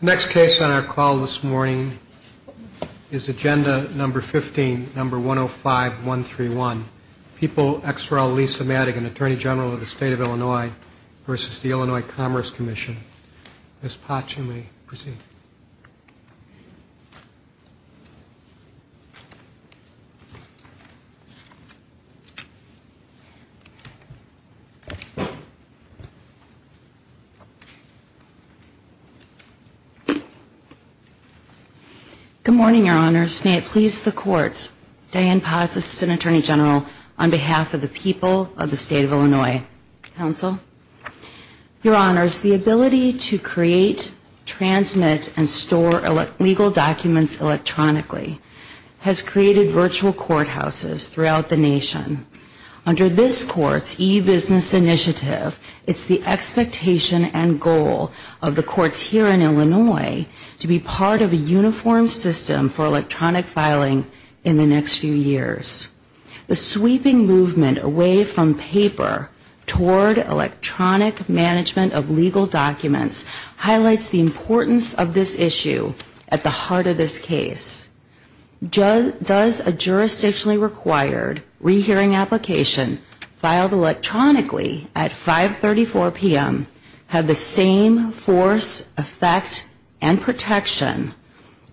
Next case on our call this morning is agenda number 15, number 105131. People ex rel Lisa Madigan, Attorney General of the State of Illinois v. Illinois Commerce Commission. Ms. Potts, you may proceed. Good morning, Your Honors. May it please the Court, Diane Potts, Assistant Attorney General, on behalf of the people of the State of Illinois. Counsel, Your Honors, the ability to create, transmit, and store legal documents electronically has created virtual courthouses throughout the nation. Under this Court's e-business initiative, it's the expectation and goal of creating virtual courthouses throughout the nation. It's the expectation of the courts here in Illinois to be part of a uniform system for electronic filing in the next few years. The sweeping movement away from paper toward electronic management of legal documents highlights the importance of this issue at the heart of this case. Does a jurisdictionally required re-hearing application filed electronically at 5.34 p.m. have the same four-week duration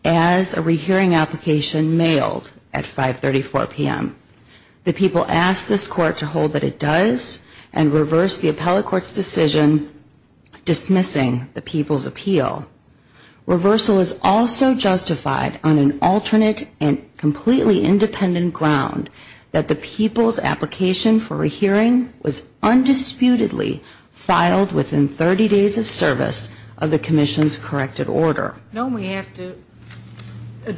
as a re-hearing application? The people ask this Court to hold that it does, and reverse the appellate court's decision dismissing the people's appeal. Reversal is also justified on an alternate and completely independent ground that the people's application for re-hearing was undisputedly filed within 30 days of service on a commission's corrected order. Your Honor, the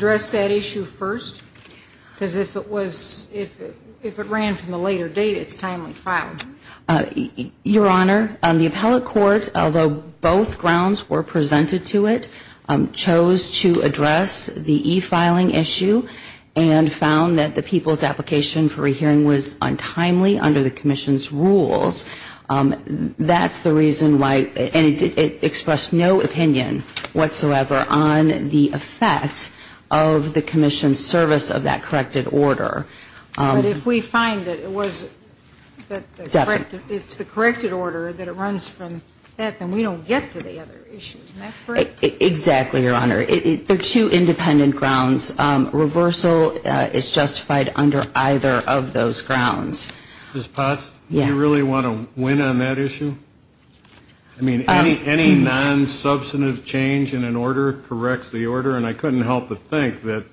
appellate court, although both grounds were presented to it, chose to address the e-filing issue and found that the people's application for re-hearing was untimely under the commission's rules. That's the reason why, and it expressed no opinion whatsoever on the effect of the commission's service of that corrected order. But if we find that it was, that it's the corrected order, that it runs from that, then we don't get to the other issues. Isn't that correct? Exactly, Your Honor. There are two independent grounds. Reversal is justified under either of those grounds. Ms. Potts, do you really want to win on that issue? I mean, any non-substantive change in an order corrects the order, and I couldn't help but think that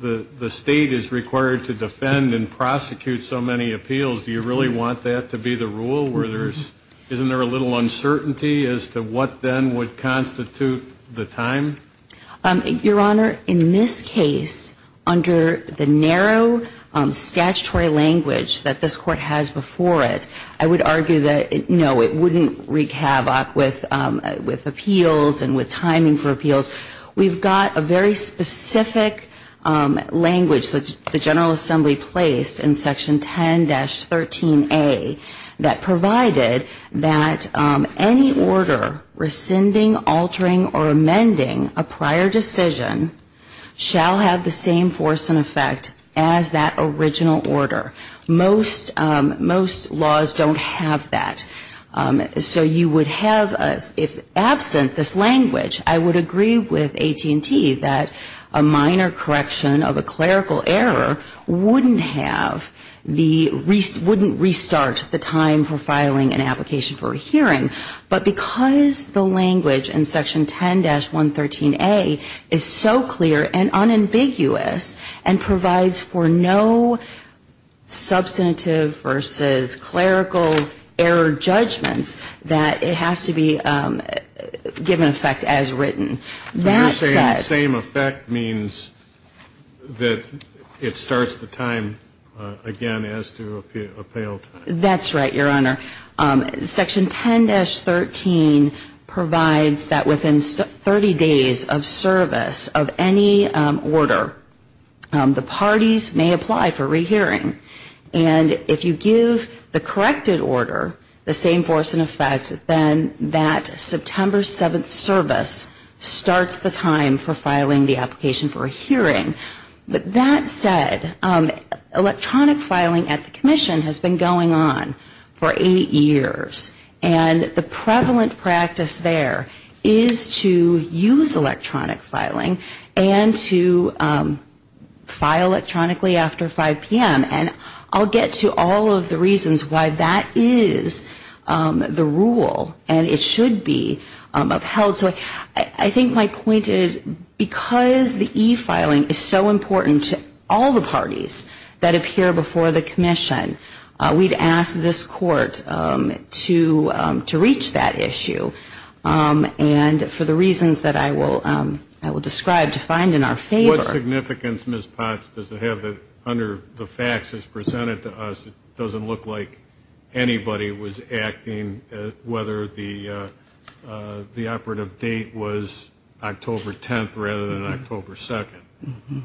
the State is required to defend and prosecute so many appeals. Do you really want that to be the rule, where there's, isn't there a little uncertainty as to what then would constitute the time? Your Honor, in this case, under the narrow statutory language, the people's application for re-hearing, the people's application for appeal, that's the language that this Court has before it. I would argue that, no, it wouldn't wreak havoc with appeals and with timing for appeals. We've got a very specific language that the General Assembly placed in Section 10-13a, that provided that any order rescinding, altering, or amending a prior decision shall have the same force and effect as that original order. Most laws don't have that. So you would have, if absent this language, I would agree with AT&T that a minor correction of a clerical error wouldn't have the restart, wouldn't restart the time for filing an application for a hearing. But because the language in Section 10-113a is so clear and unambiguous and provides for no substantive reason to have a clerical error, it's not just a matter of having substantive versus clerical error judgments that it has to be given effect as written. That said ---- And you're saying the same effect means that it starts the time again as to appeal time? That's right, Your Honor. Section 10-13 provides that within 30 days of service of any order, the parties may apply for hearing. And if you give the corrected order the same force and effect, then that September 7th service starts the time for filing the application for a hearing. But that said, electronic filing at the Commission has been going on for eight years. And the prevalent practice there is to use electronic filing and to file electronically after 5 p.m. And I'll get to all of the reasons why that is the rule and it should be upheld. So I think my point is because the e-filing is so important to all the parties that appear before the Commission, we'd ask this Court to reach that issue. And for the reasons that I will describe to find in our favor ---- I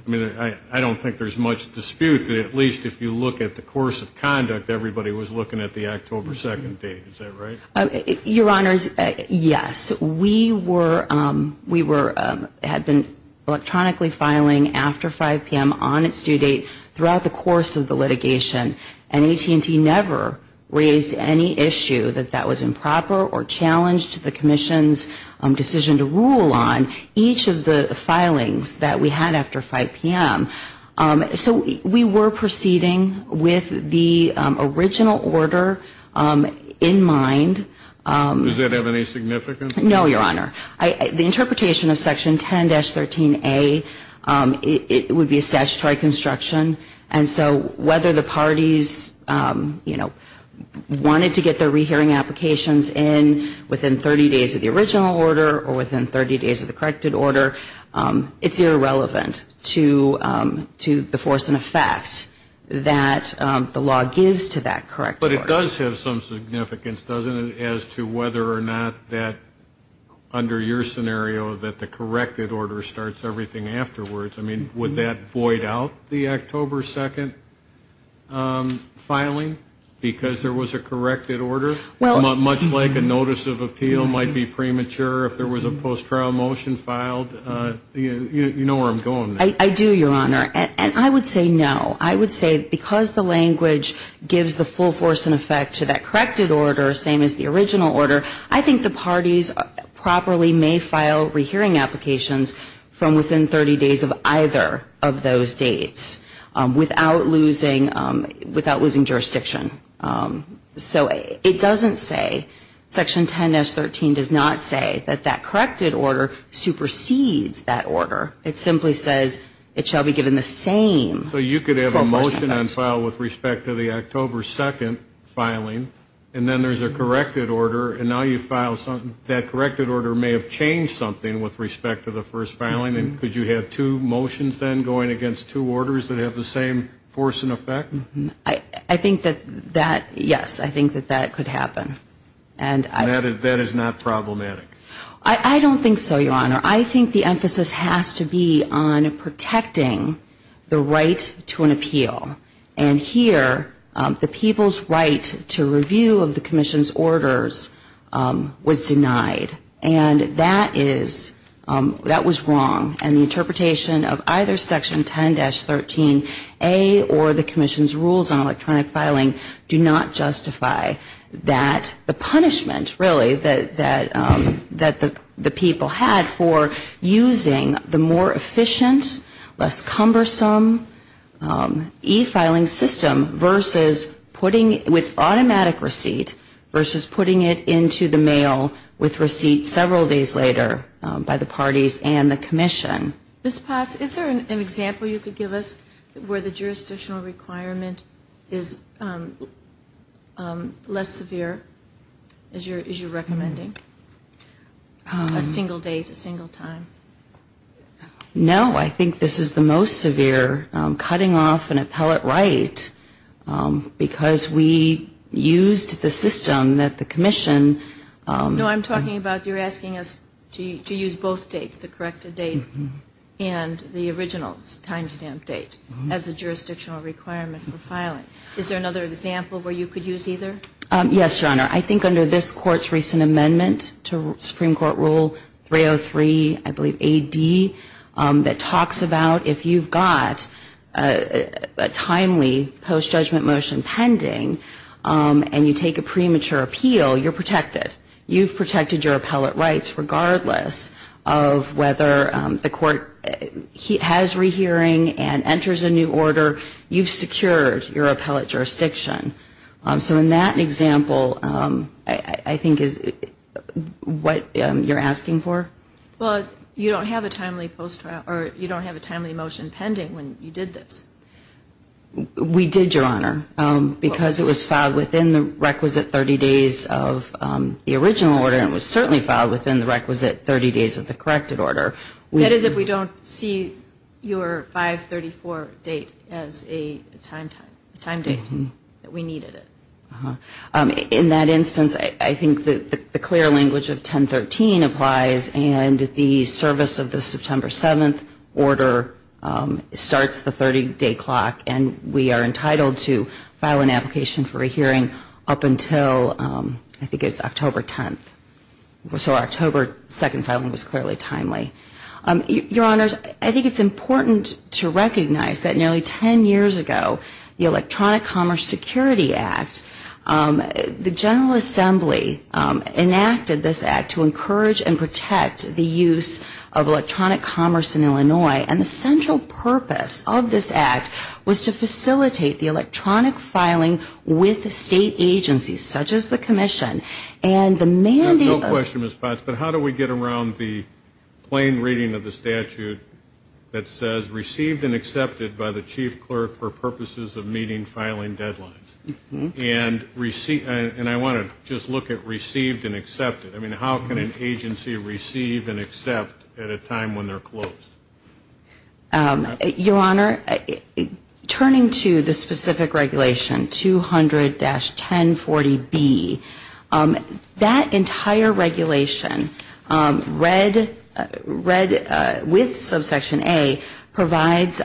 mean, I don't think there's much dispute that at least if you look at the course of conduct, everybody was looking at the October 2nd date. Is that right? Your Honors, yes. We were ---- had been electronically filing after 5 p.m. on its due date throughout the course of those two years of the litigation. And AT&T never raised any issue that that was improper or challenged the Commission's decision to rule on each of the filings that we had after 5 p.m. So we were proceeding with the original order in mind. Does that have any significance? No, Your Honor. The interpretation of Section 10-13A would be a statutory construction. And so whether the parties, you know, wanted to get their rehearing applications in within 30 days of the original order or within 30 days of the corrected order, it's irrelevant to the force and effect that the law gives to that correct order. But it does have some significance, doesn't it, as to whether or not that under your scenario that the corrected order starts everything afterwards. I mean, would that void out the October 2nd filing because there was a corrected order? Much like a notice of appeal might be premature if there was a post-trial motion filed. You know where I'm going there. I do, Your Honor. And I would say no. I don't think there's a force and effect to that corrected order, same as the original order. I think the parties properly may file rehearing applications from within 30 days of either of those dates without losing jurisdiction. So it doesn't say, Section 10-13 does not say that that corrected order supersedes that order. It simply says it shall be given the same force and effect. And then file with respect to the October 2nd filing, and then there's a corrected order, and now you file something. That corrected order may have changed something with respect to the first filing. Could you have two motions then going against two orders that have the same force and effect? I think that, yes, I think that that could happen. And that is not problematic? I don't think so, Your Honor. I think the emphasis has to be on protecting the right to an appeal. And here, the people's right to review of the Commission's orders was denied. And that is, that was wrong. And the interpretation of either Section 10-13A or the Commission's rules on electronic filing do not justify that the punishment, really, that the people had for using the more efficient, less cumbersome e-filing system versus putting it with automatic receipt versus putting it into the mail with receipt several days later by the parties and the Commission. Ms. Potts, is there an example you could give us where the jurisdictional requirement is less severe, as you're recommending? A single date, a single time? No, I think this is the most severe, cutting off an appellate right, because we used the system that the Commission... No, I'm talking about you're asking us to use both dates, the corrected date and the original time stamp date as a jurisdictional requirement for filing. Is there another example where you could use either? There's a Supreme Court rule, 303, I believe, AD, that talks about if you've got a timely post-judgment motion pending and you take a premature appeal, you're protected. You've protected your appellate rights, regardless of whether the court has rehearing and enters a new order, you've secured your appellate jurisdiction. So in that example, I think is what you're asking for? Well, you don't have a timely motion pending when you did this. We did, Your Honor, because it was filed within the requisite 30 days of the original order, and it was certainly filed within the requisite 30 days of the corrected order. That is if we don't see your 534 date as a time date. We needed it. In that instance, I think the clear language of 1013 applies, and the service of the September 7th order starts the 30-day clock, and we are entitled to file an application for a hearing up until, I think it's October 10th. So October 2nd filing was clearly timely. Your Honors, I think it's important to recognize that nearly 10 years ago, the Electronic Commerce Security Act, the General Assembly enacted this act to encourage and protect the use of electronic commerce in Illinois. And the central purpose of this act was to facilitate the electronic filing with state agencies, such as the Commission. And the mandate of... No question, Ms. Potts, but how do we get around the plain reading of the statute that says, received and accepted by the chief clerk for purposes of meeting filing deadlines? And I want to just look at received and accepted. I mean, how can an agency receive and accept at a time when they're closed? Your Honor, turning to the specific regulation, 200-1040B, I think it's important to recognize that this is not a specific regulation. That entire regulation, read with subsection A, provides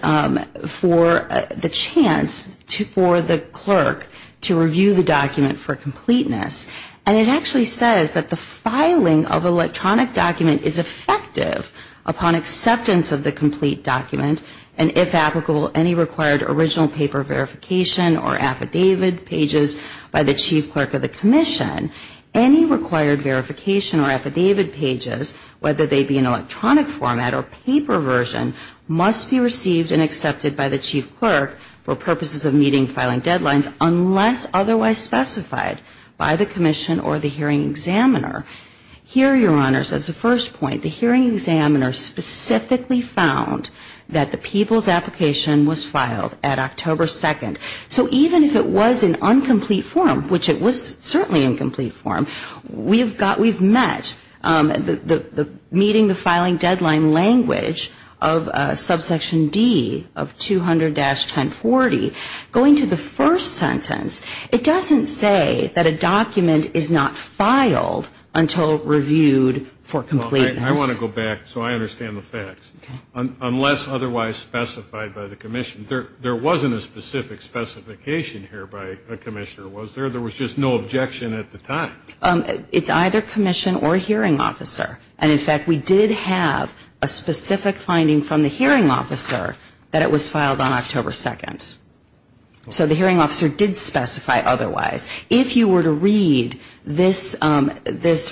for the chance for the clerk to review the document for completeness. And it actually says that the filing of electronic document is effective upon acceptance of the complete document, and if applicable, any required original paper verification or affidavit pages by the chief clerk of the Commission. Any required verification or affidavit pages, whether they be in electronic format or paper version, must be received and accepted by the chief clerk for purposes of meeting filing deadlines, unless otherwise specified by the Commission or the hearing examiner. Here, Your Honor, says the first point, the hearing examiner specifically found that the people's application was filed at October 2nd. So even if it was in incomplete form, which it was certainly in complete form, we've got, we've met the meeting the filing deadline language of subsection D of 200-1040. Going to the first sentence, it doesn't say that a document is not filed until reviewed for completeness. I want to go back so I understand the facts. Unless otherwise specified by the Commission, there wasn't a specific specification here by the Commissioner, was there? There was just no objection at the time. It's either Commission or hearing officer, and in fact, we did have a specific finding from the hearing officer that it was filed on October 2nd. So the hearing officer did specify otherwise. If you were to read this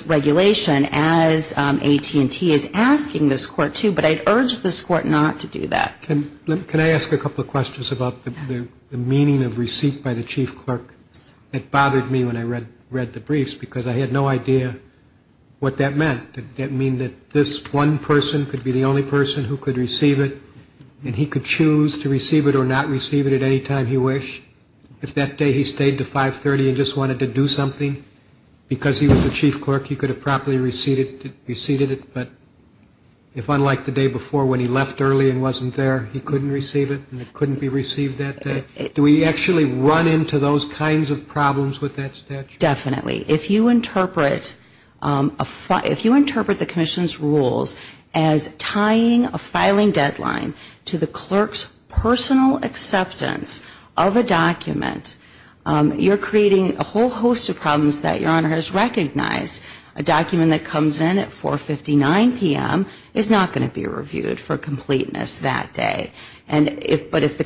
regulation as AT&T is asking this court to, but I'd urge this court not to do that. Can I ask a couple of questions about the meaning of receipt by the chief clerk? It bothered me when I read the briefs because I had no idea what that meant. Did that mean that this one person could be the only person who could receive it and he could choose to receive it or not receive it at any time he wished? If that day he stayed to 530 and just wanted to do something, because he was the chief clerk, he could have properly received it, but if unlike the day before when he left early and wasn't there, he couldn't receive it and it couldn't be received that day? Do we actually run into those kinds of problems with that statute? Definitely. If you interpret the Commission's rules as tying a filing deadline to the clerk's personal acceptance of a document, that would be a violation. If you're creating a whole host of problems that your Honor has recognized, a document that comes in at 4.59 p.m. is not going to be reviewed for completeness that day. But if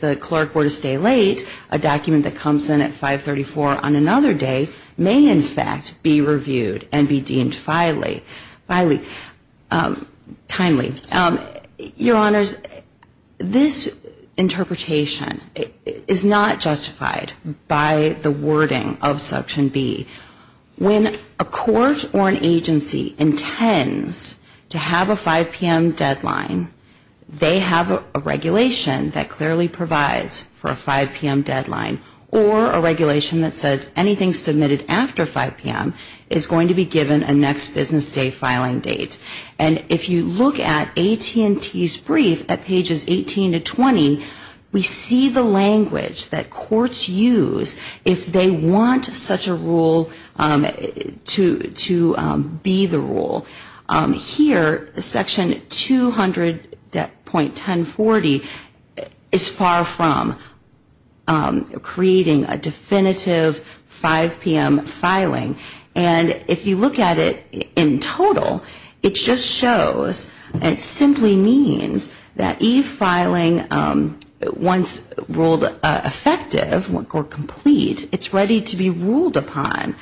the clerk were to stay late, a document that comes in at 5.34 on another day may in fact be reviewed and be deemed timely. Your Honors, this interpretation is not justified by the wording of Section B. When a court or an agency intends to have a 5 p.m. deadline, they have a regulation that clearly provides for a 5 p.m. deadline or a regulation that says anything submitted after 5 p.m. is going to be given a next business day filing date. And if you look at AT&T's brief at pages 18 to 20, we see the language that courts use if they want such a rule to be the rule. Here, Section 200.1040 is far from creating a definitive 5 p.m. filing. And if you look at it in total, it just shows and it simply means that e-filing, once ruled effective or complete, it's ready to be ruled upon.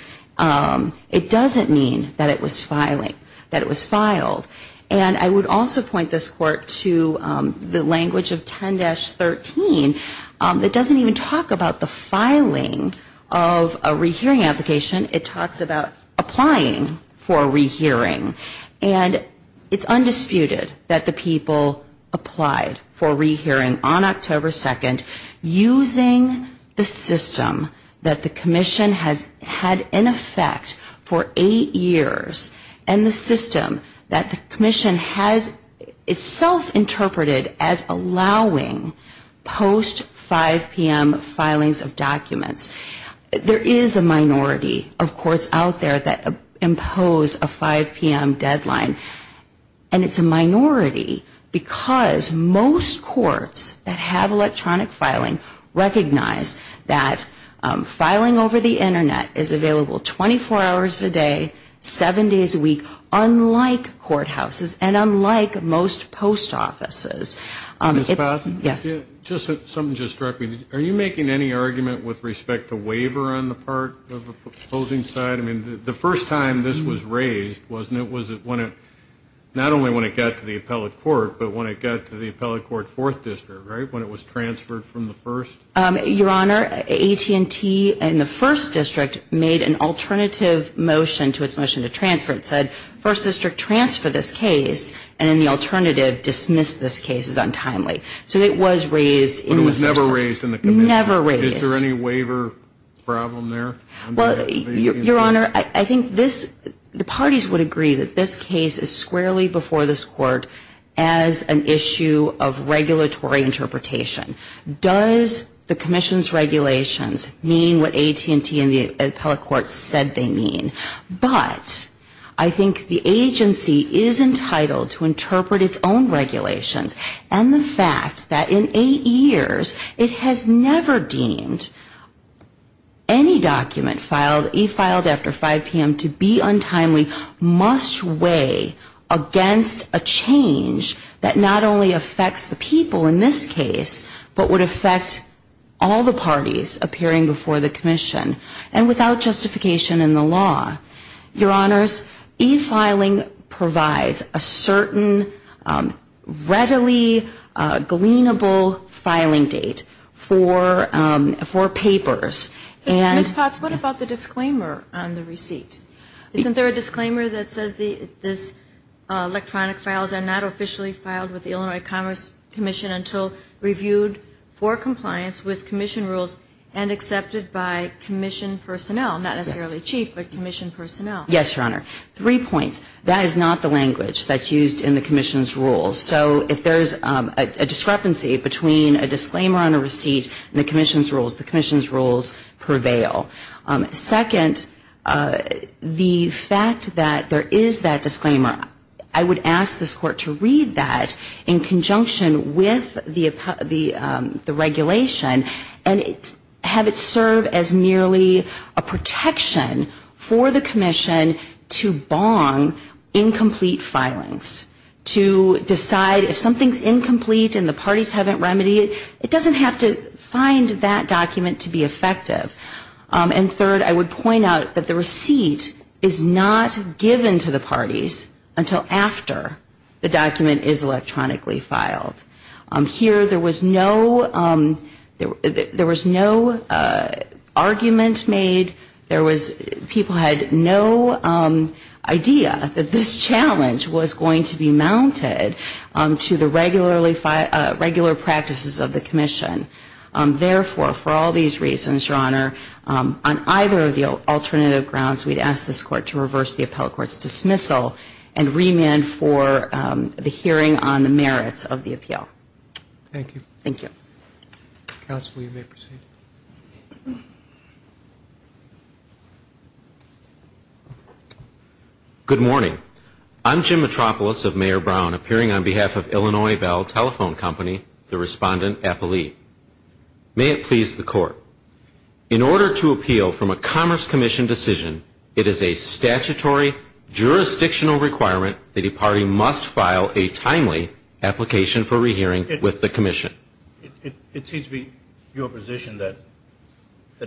It doesn't mean that it was filing, that it was filed. And I would also point this Court to the language of 10-13 that doesn't even talk about the filing of a rehearing application. It talks about applying for a rehearing. And it's undisputed that the people applied for a rehearing on October 2nd using the system that the Commission has had in effect for eight years and the system that the Commission has itself interpreted as allowing post-5 p.m. filings of documents. There is a minority of courts out there that impose a 5 p.m. deadline. And it's a minority because most courts that have electronic filing recognize that filing over the Internet is available 24 hours a day, seven days a week, unlike courthouses and unlike most post offices. Mrs. Batson? Yes. Something just struck me. Are you making any argument with respect to waiver on the part of the opposing side? I mean, the first time this was raised, wasn't it, was it when it not only when it got to the Appellate Court, but when it got to the Appellate Court 4th District, right, when it was transferred from the 1st? It was never raised in the Commission. Is there any waiver problem there? Your Honor, I think the parties would agree that this case is squarely before this Court as an issue of regulatory interpretation. Does the Commission's regulations mean what AT&T and the Appellate Court said they mean? But I think the agency is entitled to interpret its own regulations. And the fact that in eight years it has never deemed any document e-filed after 5 p.m. to be untimely must weigh against a change that not only affects the people in this case, but would affect all the parties appearing before the Commission and without justification in the law. Your Honors, e-filing provides a certain readily gleanable filing date for papers. Ms. Potts, what about the disclaimer on the receipt? Isn't there a disclaimer that says this electronic files are not officially filed with the Illinois Commerce Commission until reviewed for compliance with Commission rules and accepted by Commission personnel, not necessarily chief, but Commission personnel? Yes, Your Honor. Three points. That is not the language that's used in the Commission's rules. So if there's a discrepancy between a disclaimer on a receipt and the Commission's rules, the Commission's rules prevail. Second, the fact that there is that disclaimer, I would ask this Court to read that in conjunction with the regulation and have it serve as merely a protection for the Commission. Second, I would ask the Commission to bong incomplete filings, to decide if something's incomplete and the parties haven't remedied it, it doesn't have to find that document to be effective. And third, I would point out that the receipt is not given to the parties until after the document is electronically filed. Here there was no argument made, there was people had no reason to file an e-filing. There was no idea that this challenge was going to be mounted to the regular practices of the Commission. Therefore, for all these reasons, Your Honor, on either of the alternative grounds, we'd ask this Court to reverse the appellate court's dismissal and remand for the hearing on the merits of the appeal. Thank you. Good morning. I'm Jim Metropolis of Mayor Brown, appearing on behalf of Illinois Bell Telephone Company, the respondent appellee. May it please the Court, in order to appeal from a Commerce Commission decision, it is a statutory jurisdictional requirement that a party must file a timely application for rehearing with the Commission. It seems to be your position that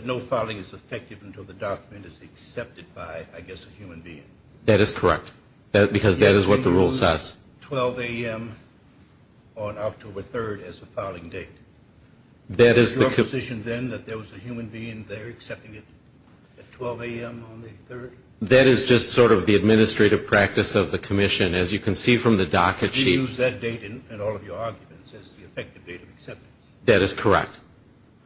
no filing is effective until the document is accepted by, I guess, the Commission. That is correct, because that is what the rule says. Is it your position, then, that there was a human being there accepting it at 12 a.m. on the 3rd? That is just sort of the administrative practice of the Commission, as you can see from the docket sheet. You use that date in all of your arguments as the effective date of acceptance. That is correct.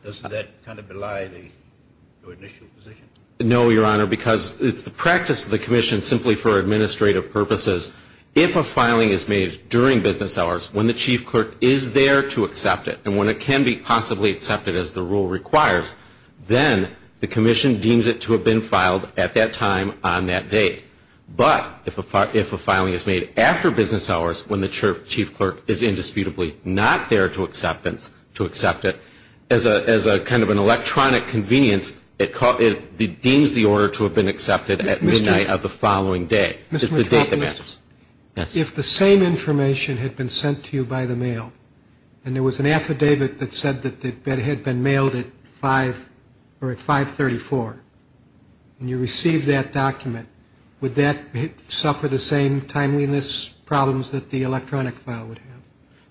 Doesn't that kind of belie the initial position? No, Your Honor, because it is the practice of the Commission, simply for administrative purposes, if a filing is made during business hours, when the Chief Clerk is there to accept it, and when it can be possibly accepted as the rule requires, then the Commission deems it to have been filed at that time on that date. But if a filing is made after business hours, when the Chief Clerk is indisputably not there to accept it, then the Commission is not required to accept it. As a kind of an electronic convenience, it deems the order to have been accepted at midnight of the following day. It is the date that matters. If the same information had been sent to you by the mail, and there was an affidavit that said that it had been mailed at 534, and you received that document, would that suffer the same timeliness problems that the electronic file would have?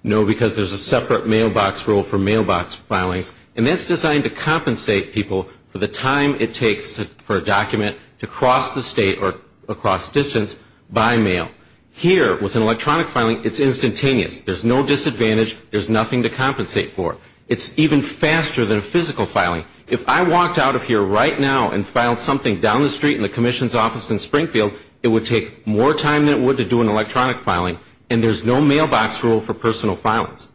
No, because there is a separate mailbox rule for mailbox filings, and that is designed to compensate people for the time it takes for a document to cross the state or across distance by mail. Here, with an electronic filing, it is instantaneous. There is no disadvantage. There is nothing to compensate for. It is even faster than a physical filing. If I walked out of here right now and filed something down the street in the Commission's office in Springfield, it would take more time than it would to do an electronic filing, and there is no mailbox rule for personal filings.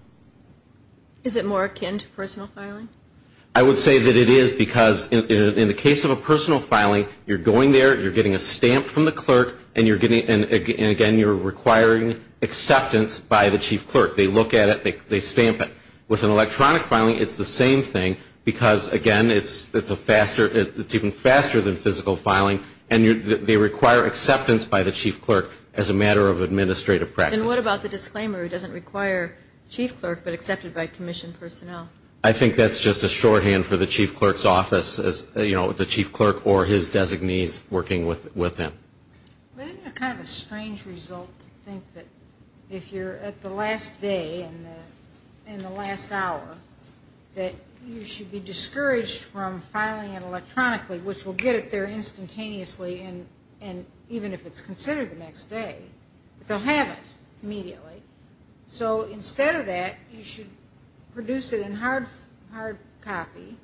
Is it more akin to personal filing? I would say that it is, because in the case of a personal filing, you are going there, you are getting a stamp from the clerk, and again, you are requiring acceptance by the Chief Clerk. They look at it, they stamp it. With an electronic filing, it is the same thing, because again, it is a faster, it is even faster than physical filing, and they require acceptance by the Chief Clerk as a matter of administrative practice. And what about the disclaimer, it doesn't require Chief Clerk, but accepted by Commission personnel? I think that is just a shorthand for the Chief Clerk's office, you know, the Chief Clerk or his designees working with him. Isn't it kind of a strange result to think that if you are at the last day and the last hour, that you should be discouraged from filing it electronically, which will get it there instantaneously, and even if it is considered the next day, they will have it immediately. So instead of that, you should produce it in hard copy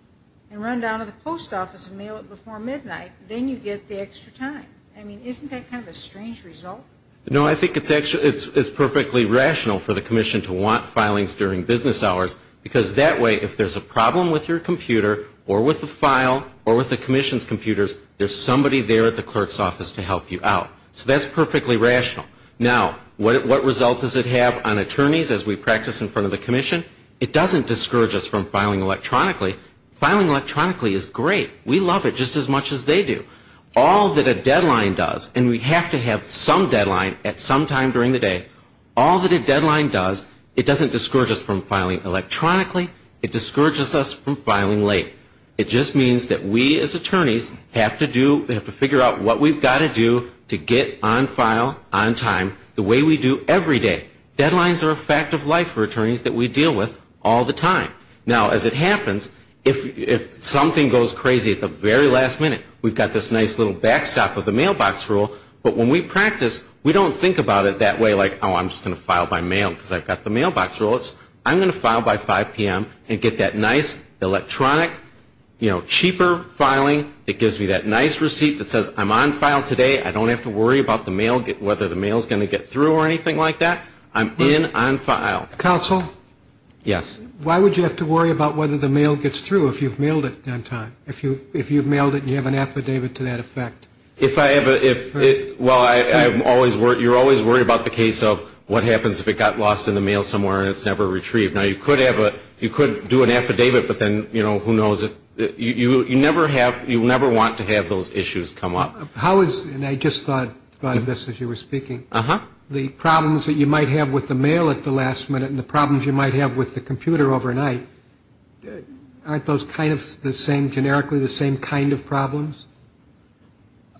and run down to the post office and mail it before midnight, then you get the extra time. I mean, isn't that kind of a strange result? No, I think it is perfectly rational for the Commission to want filings during business hours, because that way, if there is a problem with your computer, or with the file, or with the Commission's computers, there is somebody there at the Clerk's office to help you out. So that is perfectly rational. Now, what result does it have on attorneys as we practice in front of the Commission? It doesn't discourage us from filing electronically. Filing electronically is great. We love it just as much as they do. All that a deadline does, and we have to have some deadline at some time during the day, all that a deadline does, it doesn't discourage us from filing electronically, it discourages us from filing late. It just means that we as attorneys have to do, have to figure out what we've got to do to get on file on time the way we do every day. Deadlines are a fact of life for attorneys that we deal with all the time. Now, as it happens, if something goes crazy at the very last minute, we've got this nice little backstop of the mailbox rule. But when we practice, we don't think about it that way, like, oh, I'm just going to file by mail because I've got the mailbox rules. I'm going to file by 5 p.m. and get that nice, electronic, cheaper filing that gives me that nice receipt that says I'm on file today, I don't have to worry about whether the mail is going to get through or anything like that. I'm in on file. Counsel? Yes. Why would you have to worry about whether the mail gets through if you've mailed it on time? If you've mailed it and you have an affidavit to that effect? Well, you're always worried about the case of what happens if it got lost in the mail somewhere and it's never retrieved. Now, you could do an affidavit, but then, you know, who knows? You never have, you never want to have those issues come up. How is, and I just thought of this as you were speaking, the problems that you might have with mail? The problems you might have with the mail at the last minute and the problems you might have with the computer overnight, aren't those kind of the same, generically, the same kind of problems?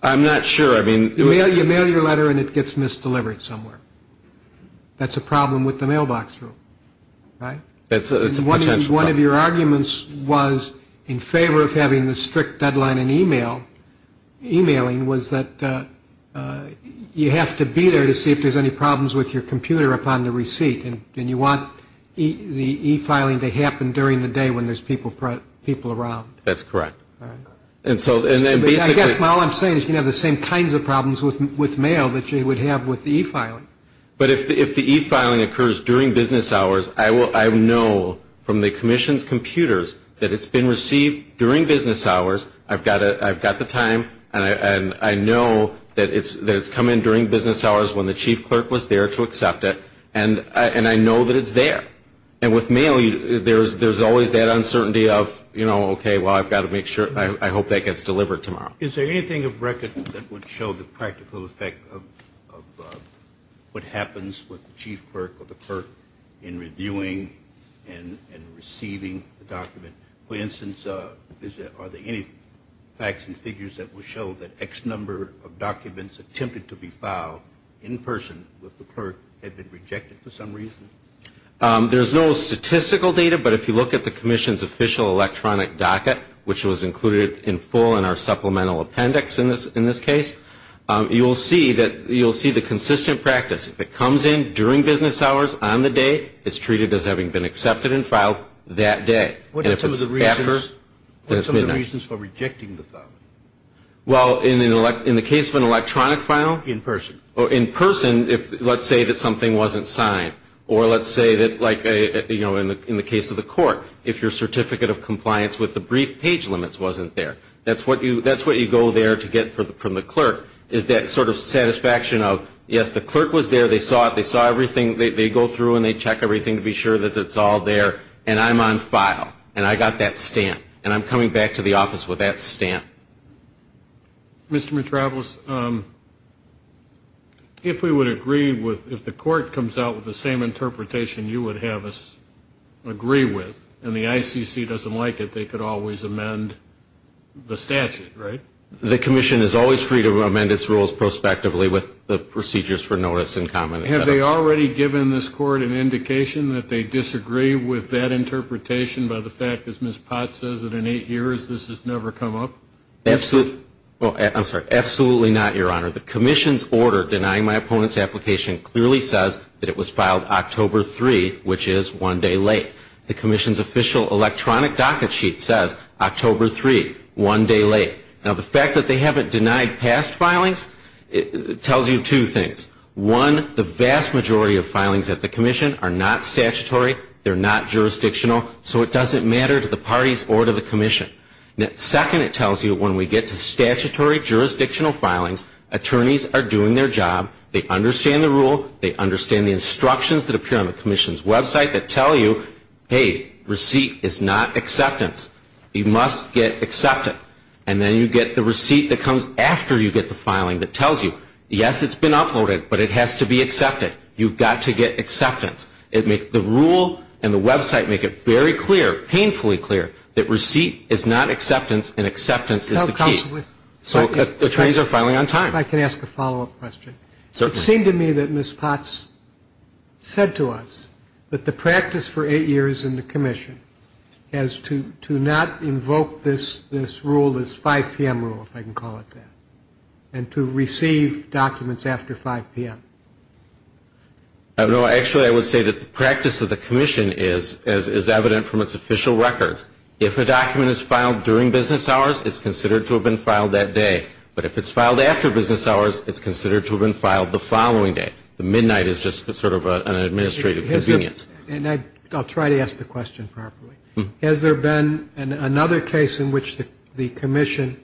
I'm not sure. You mail your letter and it gets misdelivered somewhere. That's a problem with the mailbox rule. Right? That's a potential problem. One of your arguments was in favor of having the strict deadline in e-mail, e-mailing was that you have to be there to see if there's any problems with your computer upon the receipt. And you want the e-filing to happen during the day when there's people around. That's correct. All right. And so, and then basically... I guess all I'm saying is you can have the same kinds of problems with mail that you would have with the e-filing. But if the e-filing occurs during business hours, I know from the commission's computers that it's been received during business hours. I've got the time and I know that it's come in during business hours when the chief clerk was there to accept it. And I know that it's there. And with mail, there's always that uncertainty of, you know, okay, well, I've got to make sure. I hope that gets delivered tomorrow. Is there anything of record that would show the practical effect of what happens with the chief clerk or the clerk in reviewing and receiving the document? For instance, are there any facts and figures that will show that X number of documents attempted to be filed in person with the clerk have been rejected for some reason? There's no statistical data, but if you look at the commission's official electronic docket, which was included in full in our supplemental document, which is our final appendix in this case, you'll see that you'll see the consistent practice. If it comes in during business hours on the day, it's treated as having been accepted and filed that day. And if it's after, then it's midnight. What are some of the reasons for rejecting the filing? Well, in the case of an electronic file? In person. In person, let's say that something wasn't signed. Or let's say that, like, you know, in the case of the court, if your certificate of compliance with the brief page limits wasn't there. That's what you go there to get from the clerk, is that sort of satisfaction of, yes, the clerk was there. They saw it. They saw everything. They go through, and they check everything to be sure that it's all there. And I'm on file. And I got that stamp. And I'm coming back to the office with that stamp. Mr. Metropoulos, if we would agree with, if the court comes out with the same interpretation you would have us agree with, and the ICC doesn't like it, that they could always amend the statute, right? The commission is always free to amend its rules prospectively with the procedures for notice in common, et cetera. Have they already given this court an indication that they disagree with that interpretation by the fact that as Miss Potts says that in eight years this has never come up? Absolutely not, Your Honor. The commission's order denying my opponent's application clearly says that it was filed October 3, which is one day late. Now, the fact that they haven't denied past filings tells you two things. One, the vast majority of filings at the commission are not statutory. They're not jurisdictional. So it doesn't matter to the parties or to the commission. Second, it tells you when we get to statutory jurisdictional filings, attorneys are doing their job. They understand the rule. They understand the instructions that appear on the commission's website that tell you, hey, receipt is not acceptance. It's not acceptance. It's not acceptance. It's not acceptance. It's not acceptance. You must get acceptance. And then you get the receipt that comes after you get the filing that tells you, yes, it's been uploaded, but it has to be accepted. You've got to get acceptance. The rule and the website make it very clear, painfully clear, that receipt is not acceptance and acceptance is the key. So attorneys are filing on time. If I can ask a follow-up question. Certainly. It seemed to me that Miss Potts said to us that the practice for eight years in the commission has to never be the same. I think that's a good point. I think that's a good point. To not invoke this rule, this 5 p.m. rule, if I can call it that, and to receive documents after 5 p.m. Actually, I would say that the practice of the commission is evident from its official records. If a document is filed during business hours, it's considered to have been filed that day. But if it's filed after business hours, it's considered to have been filed the following day. The midnight is just sort of an administrative convenience. And I'll try to ask the question properly. Has there been an administrative convenience? Has there been an administrative convenience? Has there been another case in which the commission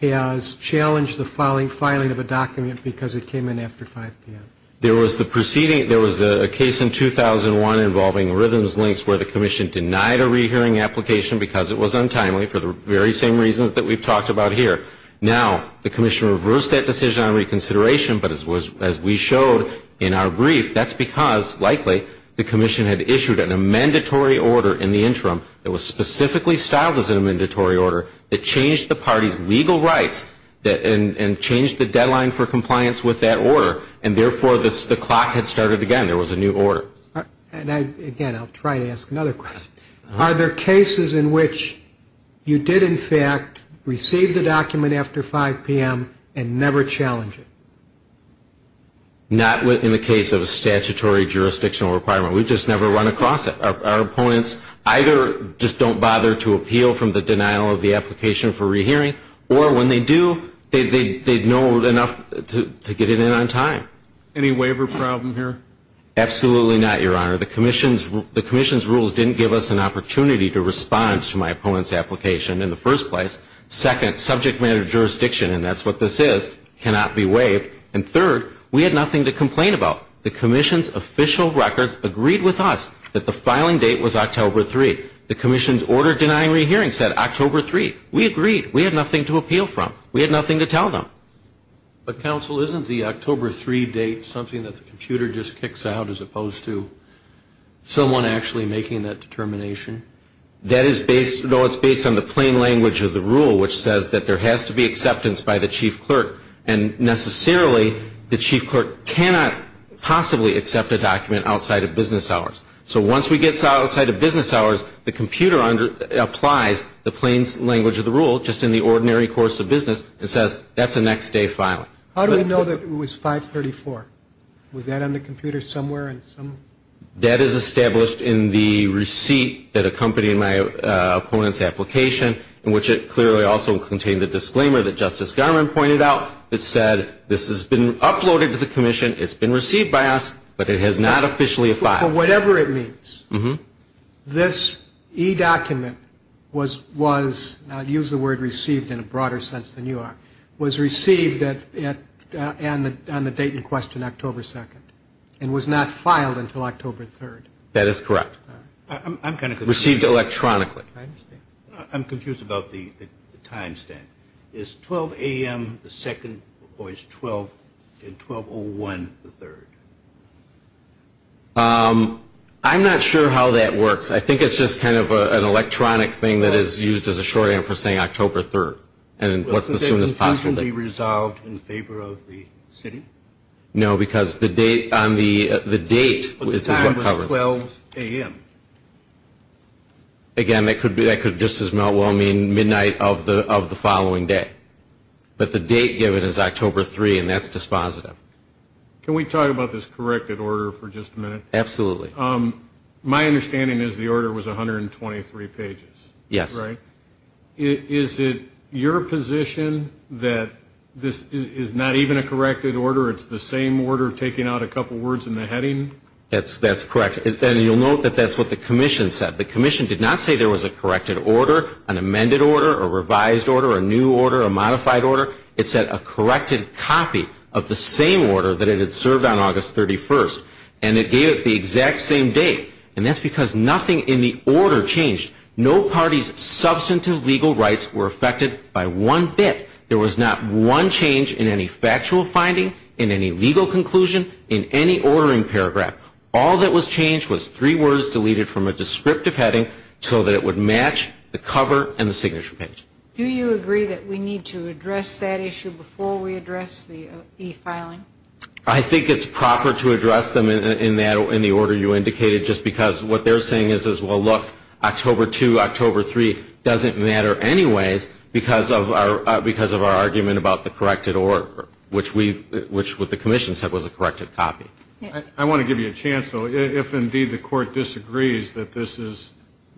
has challenged the filing of a document because it came in after 5 p.m.? There was a case in 2001 involving Rhythm's Links where the commission denied a rehearing application because it was untimely for the very same reasons that we've talked about here. Now, the commission reversed that decision on reconsideration, but as we showed in our brief, that's because, likely, the commission had issued an amendatory order in the interim that was specifically styled as an amendatory order that changed the party's legal rights and changed the deadline for compliance with that order. And, therefore, the clock had started again. There was a new order. And, again, I'll try to ask another question. Are there cases in which you did, in fact, receive the document after 5 p.m. and never challenged it? Not in the case of a statutory jurisdictional requirement. We've just never run across it. Our opponents either just don't bother to appeal from the denial of the application for rehearing or, when they do, they know enough to get it in on time. Any waiver problem here? Absolutely not, Your Honor. The commission's rules didn't give us an opportunity to respond to my opponent's application in the first place. Second, subject matter of jurisdiction, and that's what this is, cannot be waived. And, third, we had nothing to complain about. The commission's official records agreed with us that the filing date was October 3. The commission's order denying rehearing said October 3. We agreed. We had nothing to appeal from. We had nothing to tell them. But, counsel, isn't the October 3 date something that the computer just kicks out as opposed to someone actually making that determination? That is based, no, it's based on the plain language of the rule, which says that there has to be acceptance by the chief clerk, and, necessarily, the chief clerk cannot possibly accept a document outside of business hours. So, once we get outside of business hours, the computer applies the plain language of the rule, just in the ordinary course of business, and says, that's the next day filing. How do we know that it was 534? Was that on the computer somewhere? That is established in the receipt that accompanied my opponent's application, in which it clearly also contained the disclaimer that Justice Garland pointed out, that said, this has been uploaded to the commission, it's been received by us, but it has not officially filed. For whatever it means, this e-document was, and I'll use the word received in a broader sense than you are, was received on the date in question, October 2, and was not filed until October 3. That is correct. Received electronically. I'm confused about the time stamp. Is 12 a.m. the 2nd, or is 12 in 1201 the 3rd? I'm not sure how that works. I think it's just kind of an electronic thing that is used as a shorthand for saying October 3, and what's the soonest possible date. Wasn't it infrequently resolved in favor of the city? No, because the date is what covers it. But the time was 12 a.m. Again, that could just as well mean midnight of the following day. But the date given is October 3, and that's dispositive. Can we talk about this corrected order for just a minute? Absolutely. My understanding is the order was 123 pages. Yes. Right? Is it your position that this is not even a corrected order? It's the same order taking out a couple words in the heading? That's correct. And you'll note that that's what the Commission said. The Commission did not say there was a corrected order, an amended order, a revised order, a new order, a modified order. It said a corrected copy of the same order that it had served on August 31, and it gave it the exact same date. And that's because nothing in the order changed. No party's substantive legal rights were affected by one bit. There was not one change in any factual finding, in any legal conclusion, in any ordering paragraph. All that was changed was three words deleted from a descriptive heading so that it would match the cover and the signature page. Do you agree that we need to address that issue before we address the e-filing? I think it's proper to address them in the order you indicated just because what they're saying is well, look, October 2, October 3 doesn't matter anyways because of our argument about the corrected order which the Commission said was a corrected copy. I want to give you a chance, though. If indeed the Court disagrees that this is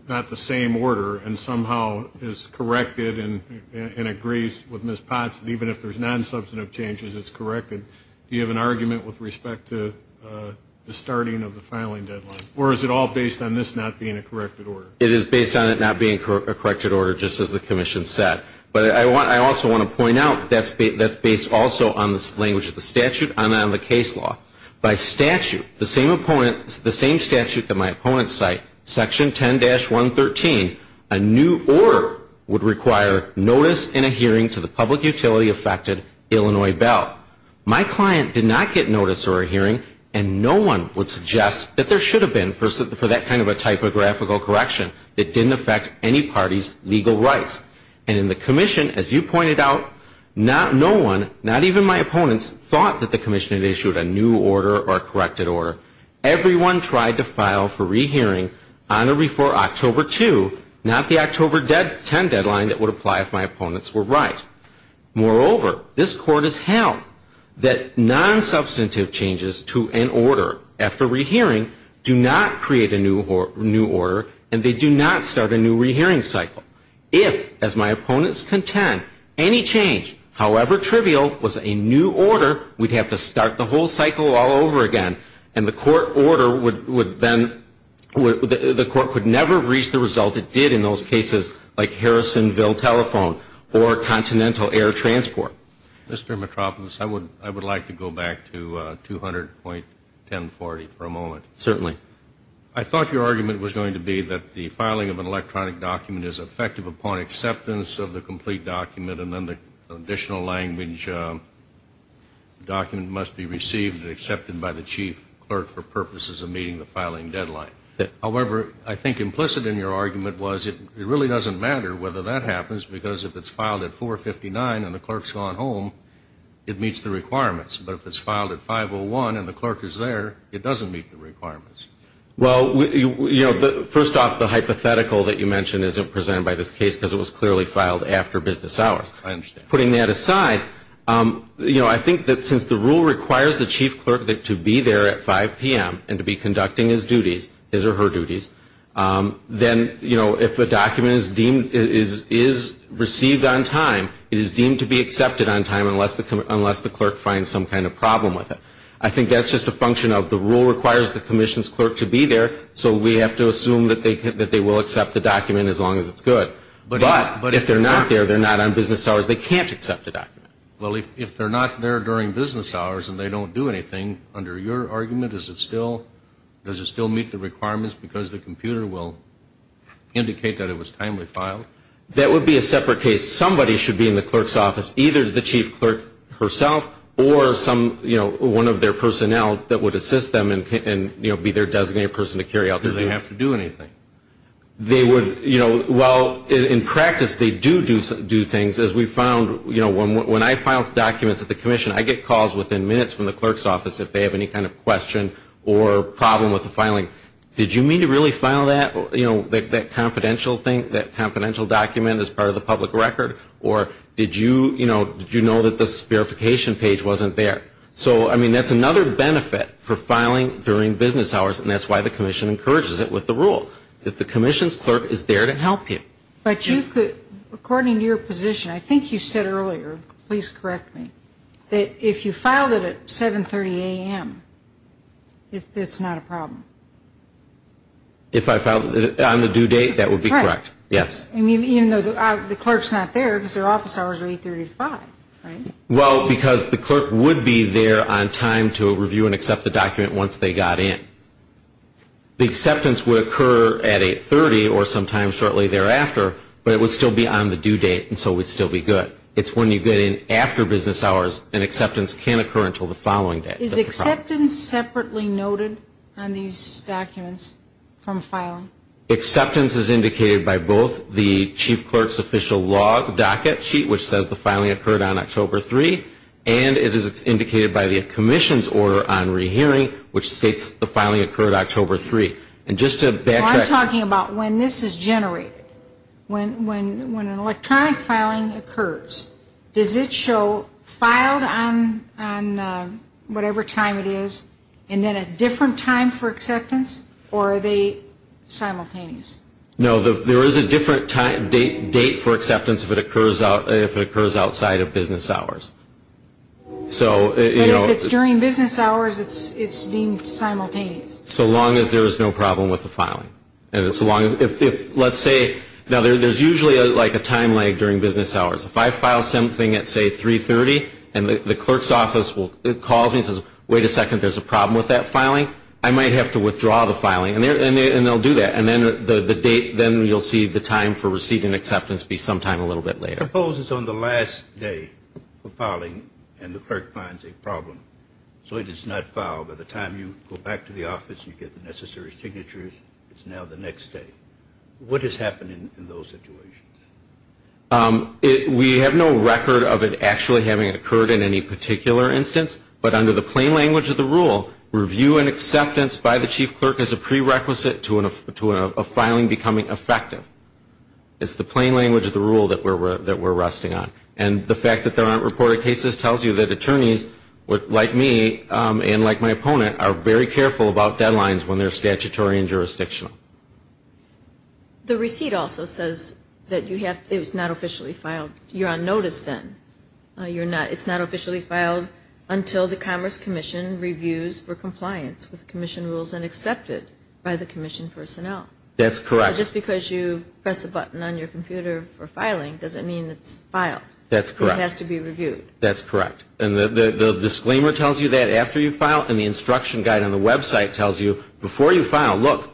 not the same order and somehow is corrected and agrees with Ms. Potts that even if there's non-substantive changes it's corrected, do you have an argument with respect to the starting of the filing deadline? Or is it all based on this not being a corrected order? It is based on it not being a corrected order just as the Commission said. But I also want to point out that's based also on the language of the statute and on the case law. By statute, the same opponent the same statute that my opponents cite Section 10-113 a new order would require notice and a hearing to the public utility affected Illinois Bell. My client did not get notice or a hearing and no one would suggest that there should have been for that kind of a typographical correction that didn't affect any party's legal rights. And in the Commission, as you pointed out not no one not even my opponents thought that the Commission had issued a new order or a corrected order. Everyone tried to file for re-hearing on or before October 2 not the October 10 deadline that would apply if my opponents were right. Moreover, this Court has held that non-substantive changes to an order after re-hearing do not create a new order and they do not start a new re-hearing cycle. If, as my opponents contend any change, however trivial was a new order we'd have to start the whole cycle all over again and the Court order would then, the Court would never reach the result it did in those cases like Harrisonville Telephone or Continental Air Transport. Mr. Mitropoulos I would like to go back to 200.1040 for a moment. Certainly. I thought your argument was going to be that the filing of an electronic document is effective upon acceptance of the complete document and then the additional language document must be received and accepted by the Chief Clerk for purposes of meeting the filing deadline. However, I think implicit in your argument was it really doesn't matter whether that happens because if it's filed at 459 and the clerk's gone home it meets the requirements. But if it's filed at 501 and the clerk is there, it doesn't meet the requirements. Well, first off, the hypothetical that you mentioned isn't presented by this case because it was clearly filed after business hours. Putting that aside, I think that since the rule requires the Chief Clerk to be there at 5 p.m. and to be conducting his duties his or her duties then if a document is received on time, it is deemed to be accepted on time unless the clerk finds some kind of problem with it. I think that's just a function of the rule requires the Commission's clerk to be there so we have to assume that they will accept the document as long as it's good. But if they're not there, they're not on business hours, they can't accept the document. Well, if they're not there during business hours and they don't do anything, under your argument, does it still meet the requirements because the computer will indicate that it was timely filed? That would be a separate case. Somebody should be in the clerk's office, either the Chief Clerk herself or one of their personnel that would assist them and be their designated person to carry out their duties. Do they have to do anything? They would, you know, well in practice they do do things as we found, you know, when I file documents at the Commission, I get calls within minutes from the clerk's office if they have any kind of question or problem with the filing. Did you mean to really file that confidential thing, that confidential document as part of the public record? Or did you know that this verification page wasn't there? So, I mean, that's another benefit for filing during business hours and that's why the Commission encourages it with the rule. If the Commission's clerk is there to help you. But you could, according to your position, I think you said earlier, please correct me, that if you filed it at 730 a.m., it's not a problem? If I filed it on the due date, that would be correct. Yes. And even though the clerk's not there because their office hours are 830 to 5, right? Well, because the clerk would be there on time to review and accept the document once they got in. The acceptance would occur at 830 or sometime shortly thereafter, but it would still be on the due date and so it would still be good. It's when you get in after business hours and acceptance can occur until the following day. Is acceptance separately noted on these documents from filing? Acceptance is indicated by both the chief clerk's official log docket sheet, which says the filing occurred on October 3, and it is indicated by the commission's order on rehearing, which states the filing occurred October 3. I'm talking about when this is generated. When an electronic filing occurs, does it show filed on whatever time it is and then a different time for acceptance or are they simultaneous? No, there is a different date for acceptance if it occurs outside of business hours. But if it's during business hours it's deemed simultaneous? So long as there is no problem with the filing. Now there's usually a time lag during business hours. If I file something at say 330 and the clerk's office calls me and says, wait a second, there's a problem with that filing, I might have to withdraw the filing and they'll do that. Then you'll see the time for receipt and acceptance be sometime a little bit later. Suppose it's on the last day of filing and the clerk finds a problem, so it is not filed. By the time you go back to the office and you get the necessary signatures it's now the next day. What has happened in those situations? We have no record of it actually having occurred in any particular instance, but under the plain language of the rule, review and acceptance by the chief clerk is a prerequisite to a filing becoming effective. It's the plain language of the rule that we're resting on. And the fact that there aren't reported cases tells you that attorneys like me and like my opponent are very careful about deadlines when they're statutory and jurisdictional. The receipt also says that it's not officially filed. You're on notice then. It's not officially filed until the Commerce Commission reviews for compliance with Commission rules and accepted by the Commission personnel. That's correct. So just because you press a button on your computer for filing doesn't mean it's filed. That's correct. It has to be reviewed. That's correct. And the disclaimer tells you that after you file and the instruction guide on the website tells you before you file, look,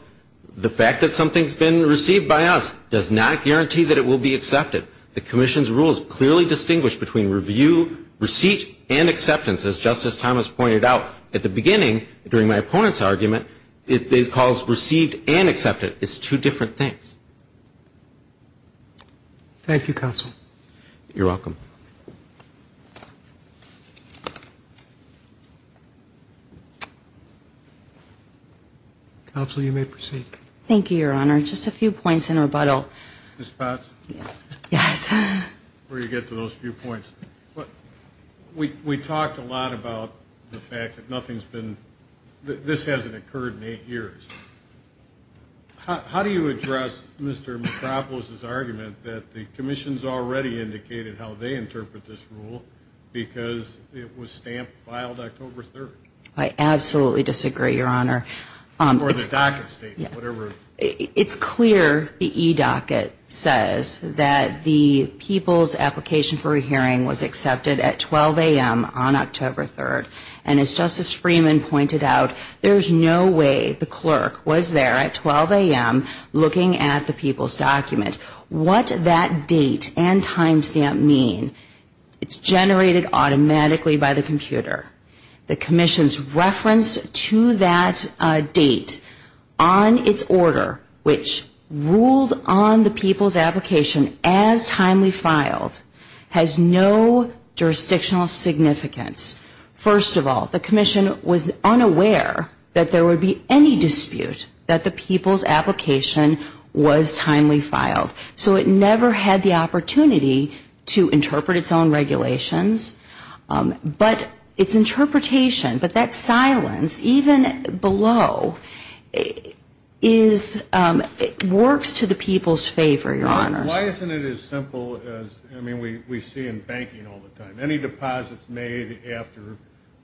the fact that something's been received by us does not guarantee that it will be accepted. The Commission's rules clearly distinguish between review, receipt, and acceptance. As Justice Thomas pointed out at the beginning during my opponent's argument, it calls received and accepted. It's two different things. Thank you, Counsel. You're welcome. Counsel, you may proceed. Thank you, Your Honor. Just a few points in rebuttal. Ms. Potts? Yes. Before you get to those few points. We talked a lot about the fact that nothing's been this hasn't occurred in eight years. How do you address Mr. Metropolis's argument that the Commission's already indicated how they interpret this rule because it was stamped, filed October 3rd? I absolutely disagree, Your Honor. Or the docket statement, whatever. the e-docket says that the people's application for a hearing was accepted at 12 And as Justice Freeman pointed out, there's no way the clerk was there at 12 a.m. looking at the people's document. What that date and timestamp mean, it's generated automatically by the computer. The Commission's reference to that date on its order, which ruled on the people's application as timely filed, has no jurisdictional significance. First of all, the Commission was unaware that there would be any dispute that the people's application was timely filed. So it never had the opportunity to interpret its own regulations. But its interpretation, but that silence, even below is works to the people's favor, Your Honor. Why isn't it as simple as we see in banking all the time. Any deposits made after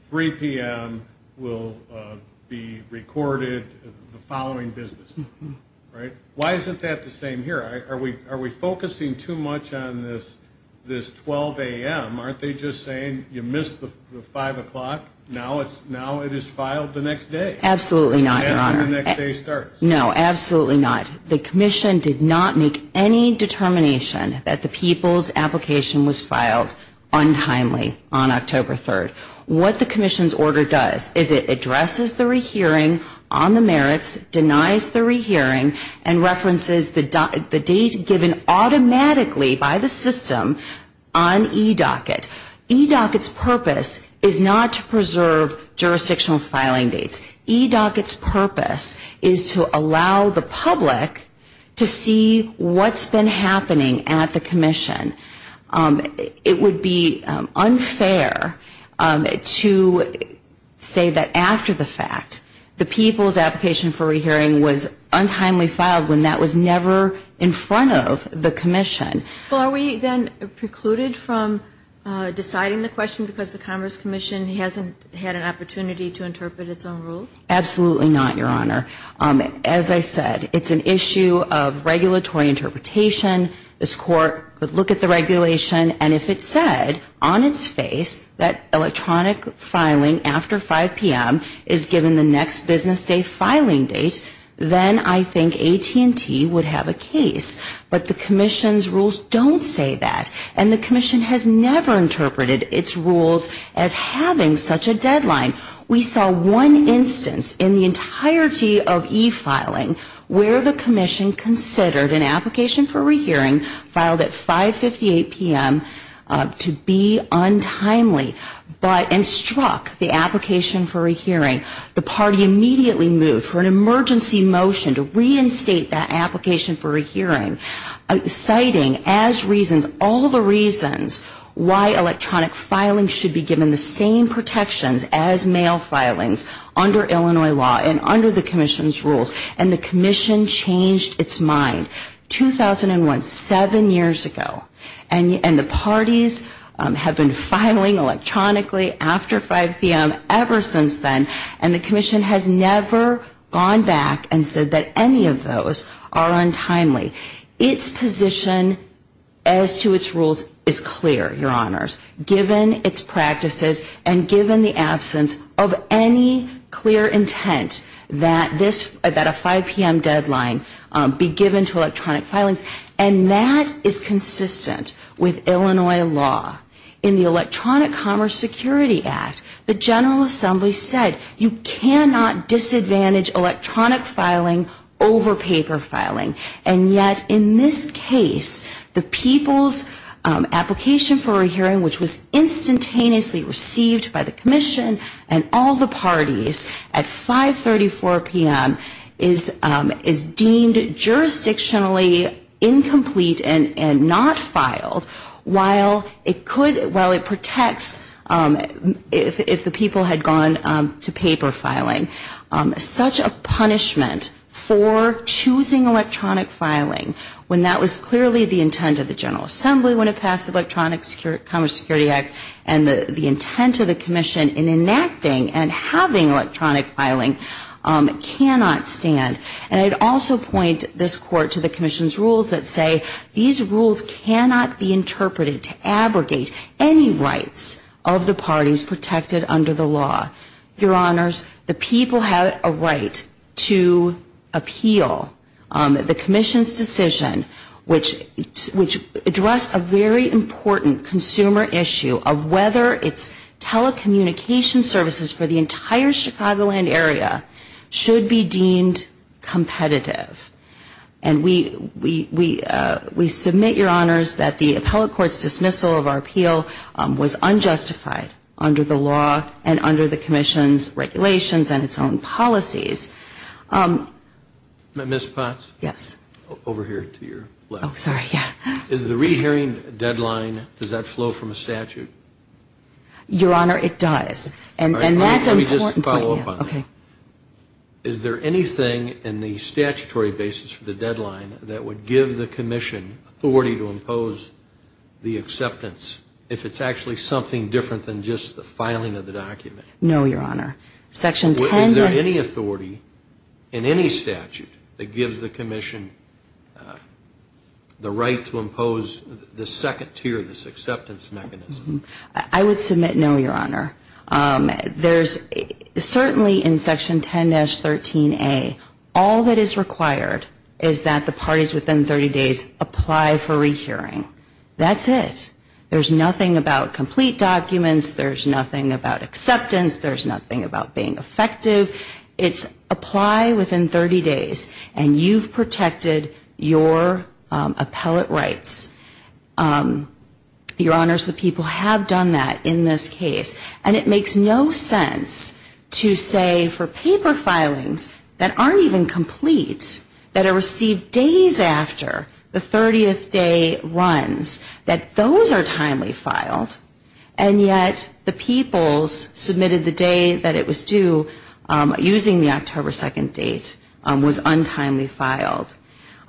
3 p.m. will be recorded the following business day. Why isn't that the same here? Are we focusing too much on this 12 a.m.? Aren't they just saying you missed the 5 o'clock, now it is filed the next day? Absolutely not, Your Honor. No, absolutely not. The Commission did not make any determination that the people's application was filed untimely on October 3rd. What the Commission's order does is it addresses the rehearing on the merits, denies the rehearing, and references the date given automatically by the system on eDocket. eDocket's purpose is not to preserve jurisdictional filing dates. eDocket's purpose is to allow the public to see what's been happening at the Commission. It would be unfair to say that after the fact, the people's application for rehearing was untimely filed when that was never in front of the Commission. Are we then precluded from deciding the question because the Congress Commission hasn't had an opportunity to interpret its own rules? Absolutely not, Your Honor. As I said, it's an issue of regulatory interpretation. This Court would look at the regulation, and if it said on its face that electronic filing after 5 p.m. is given the next business day filing date, then I think AT&T would have a case. But the Commission's rules don't say that. And the Commission has never interpreted its rules as having such a deadline. We saw one instance in the entirety of e-filing where the Commission considered an application for rehearing filed at 5.58 p.m. to be untimely and struck the application for rehearing. The party immediately moved for an emergency motion to reinstate that application for rehearing, citing as reasons all the reasons why electronic filing should be given the same time. The Commission has never looked at electronic filings under Illinois law and under the Commission's rules, and the Commission changed its mind. 2001, seven years ago, and the parties have been filing electronically after 5 p.m. ever since then, and the Commission has never gone back and said that any of those are untimely. Its position as to its rules is clear, Your Honors, given its practices and given the absence of any clear intent that this 5 p.m. deadline be given to electronic filings. And that is consistent with Illinois law. In the Electronic Commerce Security Act, the General Assembly said you cannot disadvantage electronic filing over paper filing. And yet, in this case, the people's application for a hearing, which was instantaneously received by the Commission and all the parties at 534 p.m., is deemed jurisdictionally incomplete and not filed, while it protects if the people had gone to paper filing. Such a punishment for choosing electronic filing, when that was clearly the intent of the General Assembly when it passed the Electronic Commerce Security Act and the intent of the Commission in enacting and having electronic filing, cannot stand. And I'd also point this Court to the Commission's rules that say these rules cannot be interpreted to abrogate any rights of the parties protected under the law. Your Honors, the people have a right to appeal the Commission's decision, which addressed a very important consumer issue of whether its telecommunication services for the entire Chicagoland area should be deemed competitive. And we submit, Your Honors, that the Appellate Court's dismissal of our appeal was unjustified under the law and under the Commission's regulations and its own policies. Ms. Potts? Yes. Over here to your left. Is the re-hearing deadline, does that flow from a statute? Your Honor, it does. And that's an important point. Is there anything in the statutory basis for the authority to impose the acceptance if it's actually something different than just the filing of the document? No, Your Honor. Is there any authority in any statute that gives the Commission the right to impose the second tier of this acceptance mechanism? I would submit no, Your Honor. Certainly in Section 10-13a, all that is required is that the parties within 30 days apply for re-hearing. That's it. There's nothing about complete acceptance. There's nothing about being effective. It's apply within 30 days and you've protected your appellate rights. Your Honor, the people have done that in this case. And it makes no sense to say for paper filings that aren't even complete, that are received days after the 30th day runs, that those are timely filed and yet the people submitted the day that it was due using the October 2nd date was untimely filed.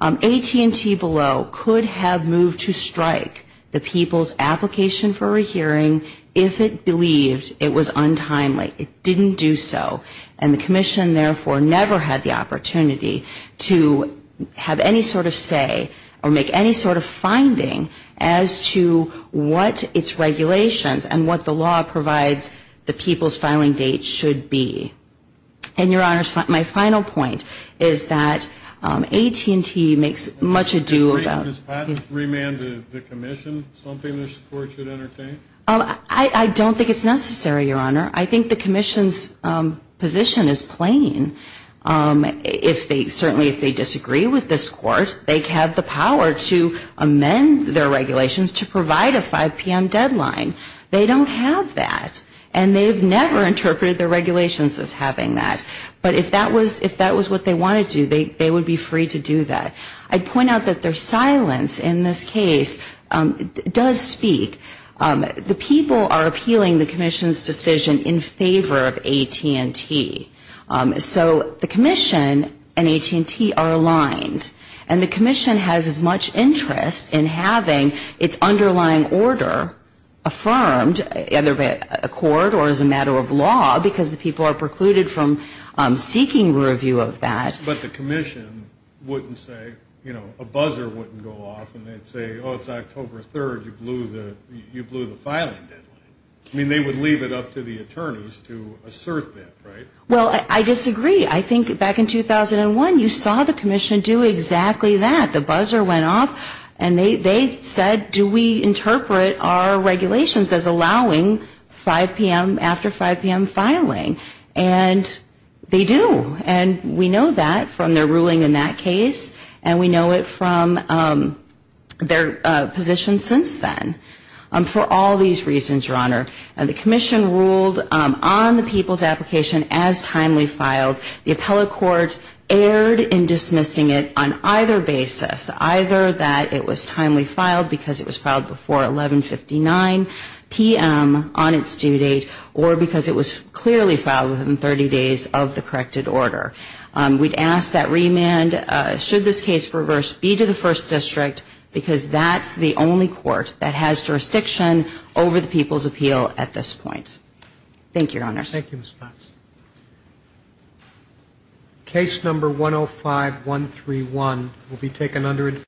AT&T below could have moved to strike the people's application for re-hearing if it believed it was untimely. It didn't do so and the Commission therefore never had the opportunity to have any sort of say or make any sort of finding as to what its regulations and what the law provides the people's filing date should be. And Your Honor, my final point is that AT&T makes much a do about... Remand the Commission? I don't think it's necessary, Your Honor. I think the Commission's position is plain. Certainly if they disagree with this Court, they have the power to provide a 5 p.m. deadline. They don't have that. And they've never interpreted their regulations as having that. But if that was what they wanted to do, they would be free to do that. I'd point out that their silence in this case does speak. The people are appealing the Commission's decision in favor of AT&T. So the Commission and AT&T are aligned and the Commission has as much interest in having its underlying order affirmed either by a court or as a matter of law because the people are precluded from seeking review of that. But the Commission wouldn't say, you know, a buzzer wouldn't go off and they'd say, oh, it's October 3rd. You blew the filing deadline. I mean, they would leave it up to the attorneys to assert that, right? Well, I disagree. I think back in 2001, you saw the Commission do exactly that. The buzzer went off and they said, do we interpret our regulations as allowing 5 p.m. after 5 p.m. filing? And they do. And we know that from their ruling in that case and we know it from their position since then. For all these reasons, Your Honor, the Commission ruled on the people's application as timely filed. The appellate court erred in either that it was timely filed because it was filed before 1159 p.m. on its due date or because it was clearly filed within 30 days of the corrected order. We'd ask that remand, should this case be reversed, be to the First District because that's the only court that has jurisdiction over the people's appeal at this point. Thank you, Your Honors. Thank you, Ms. Fox. Case number 105131 will be taken under advisory.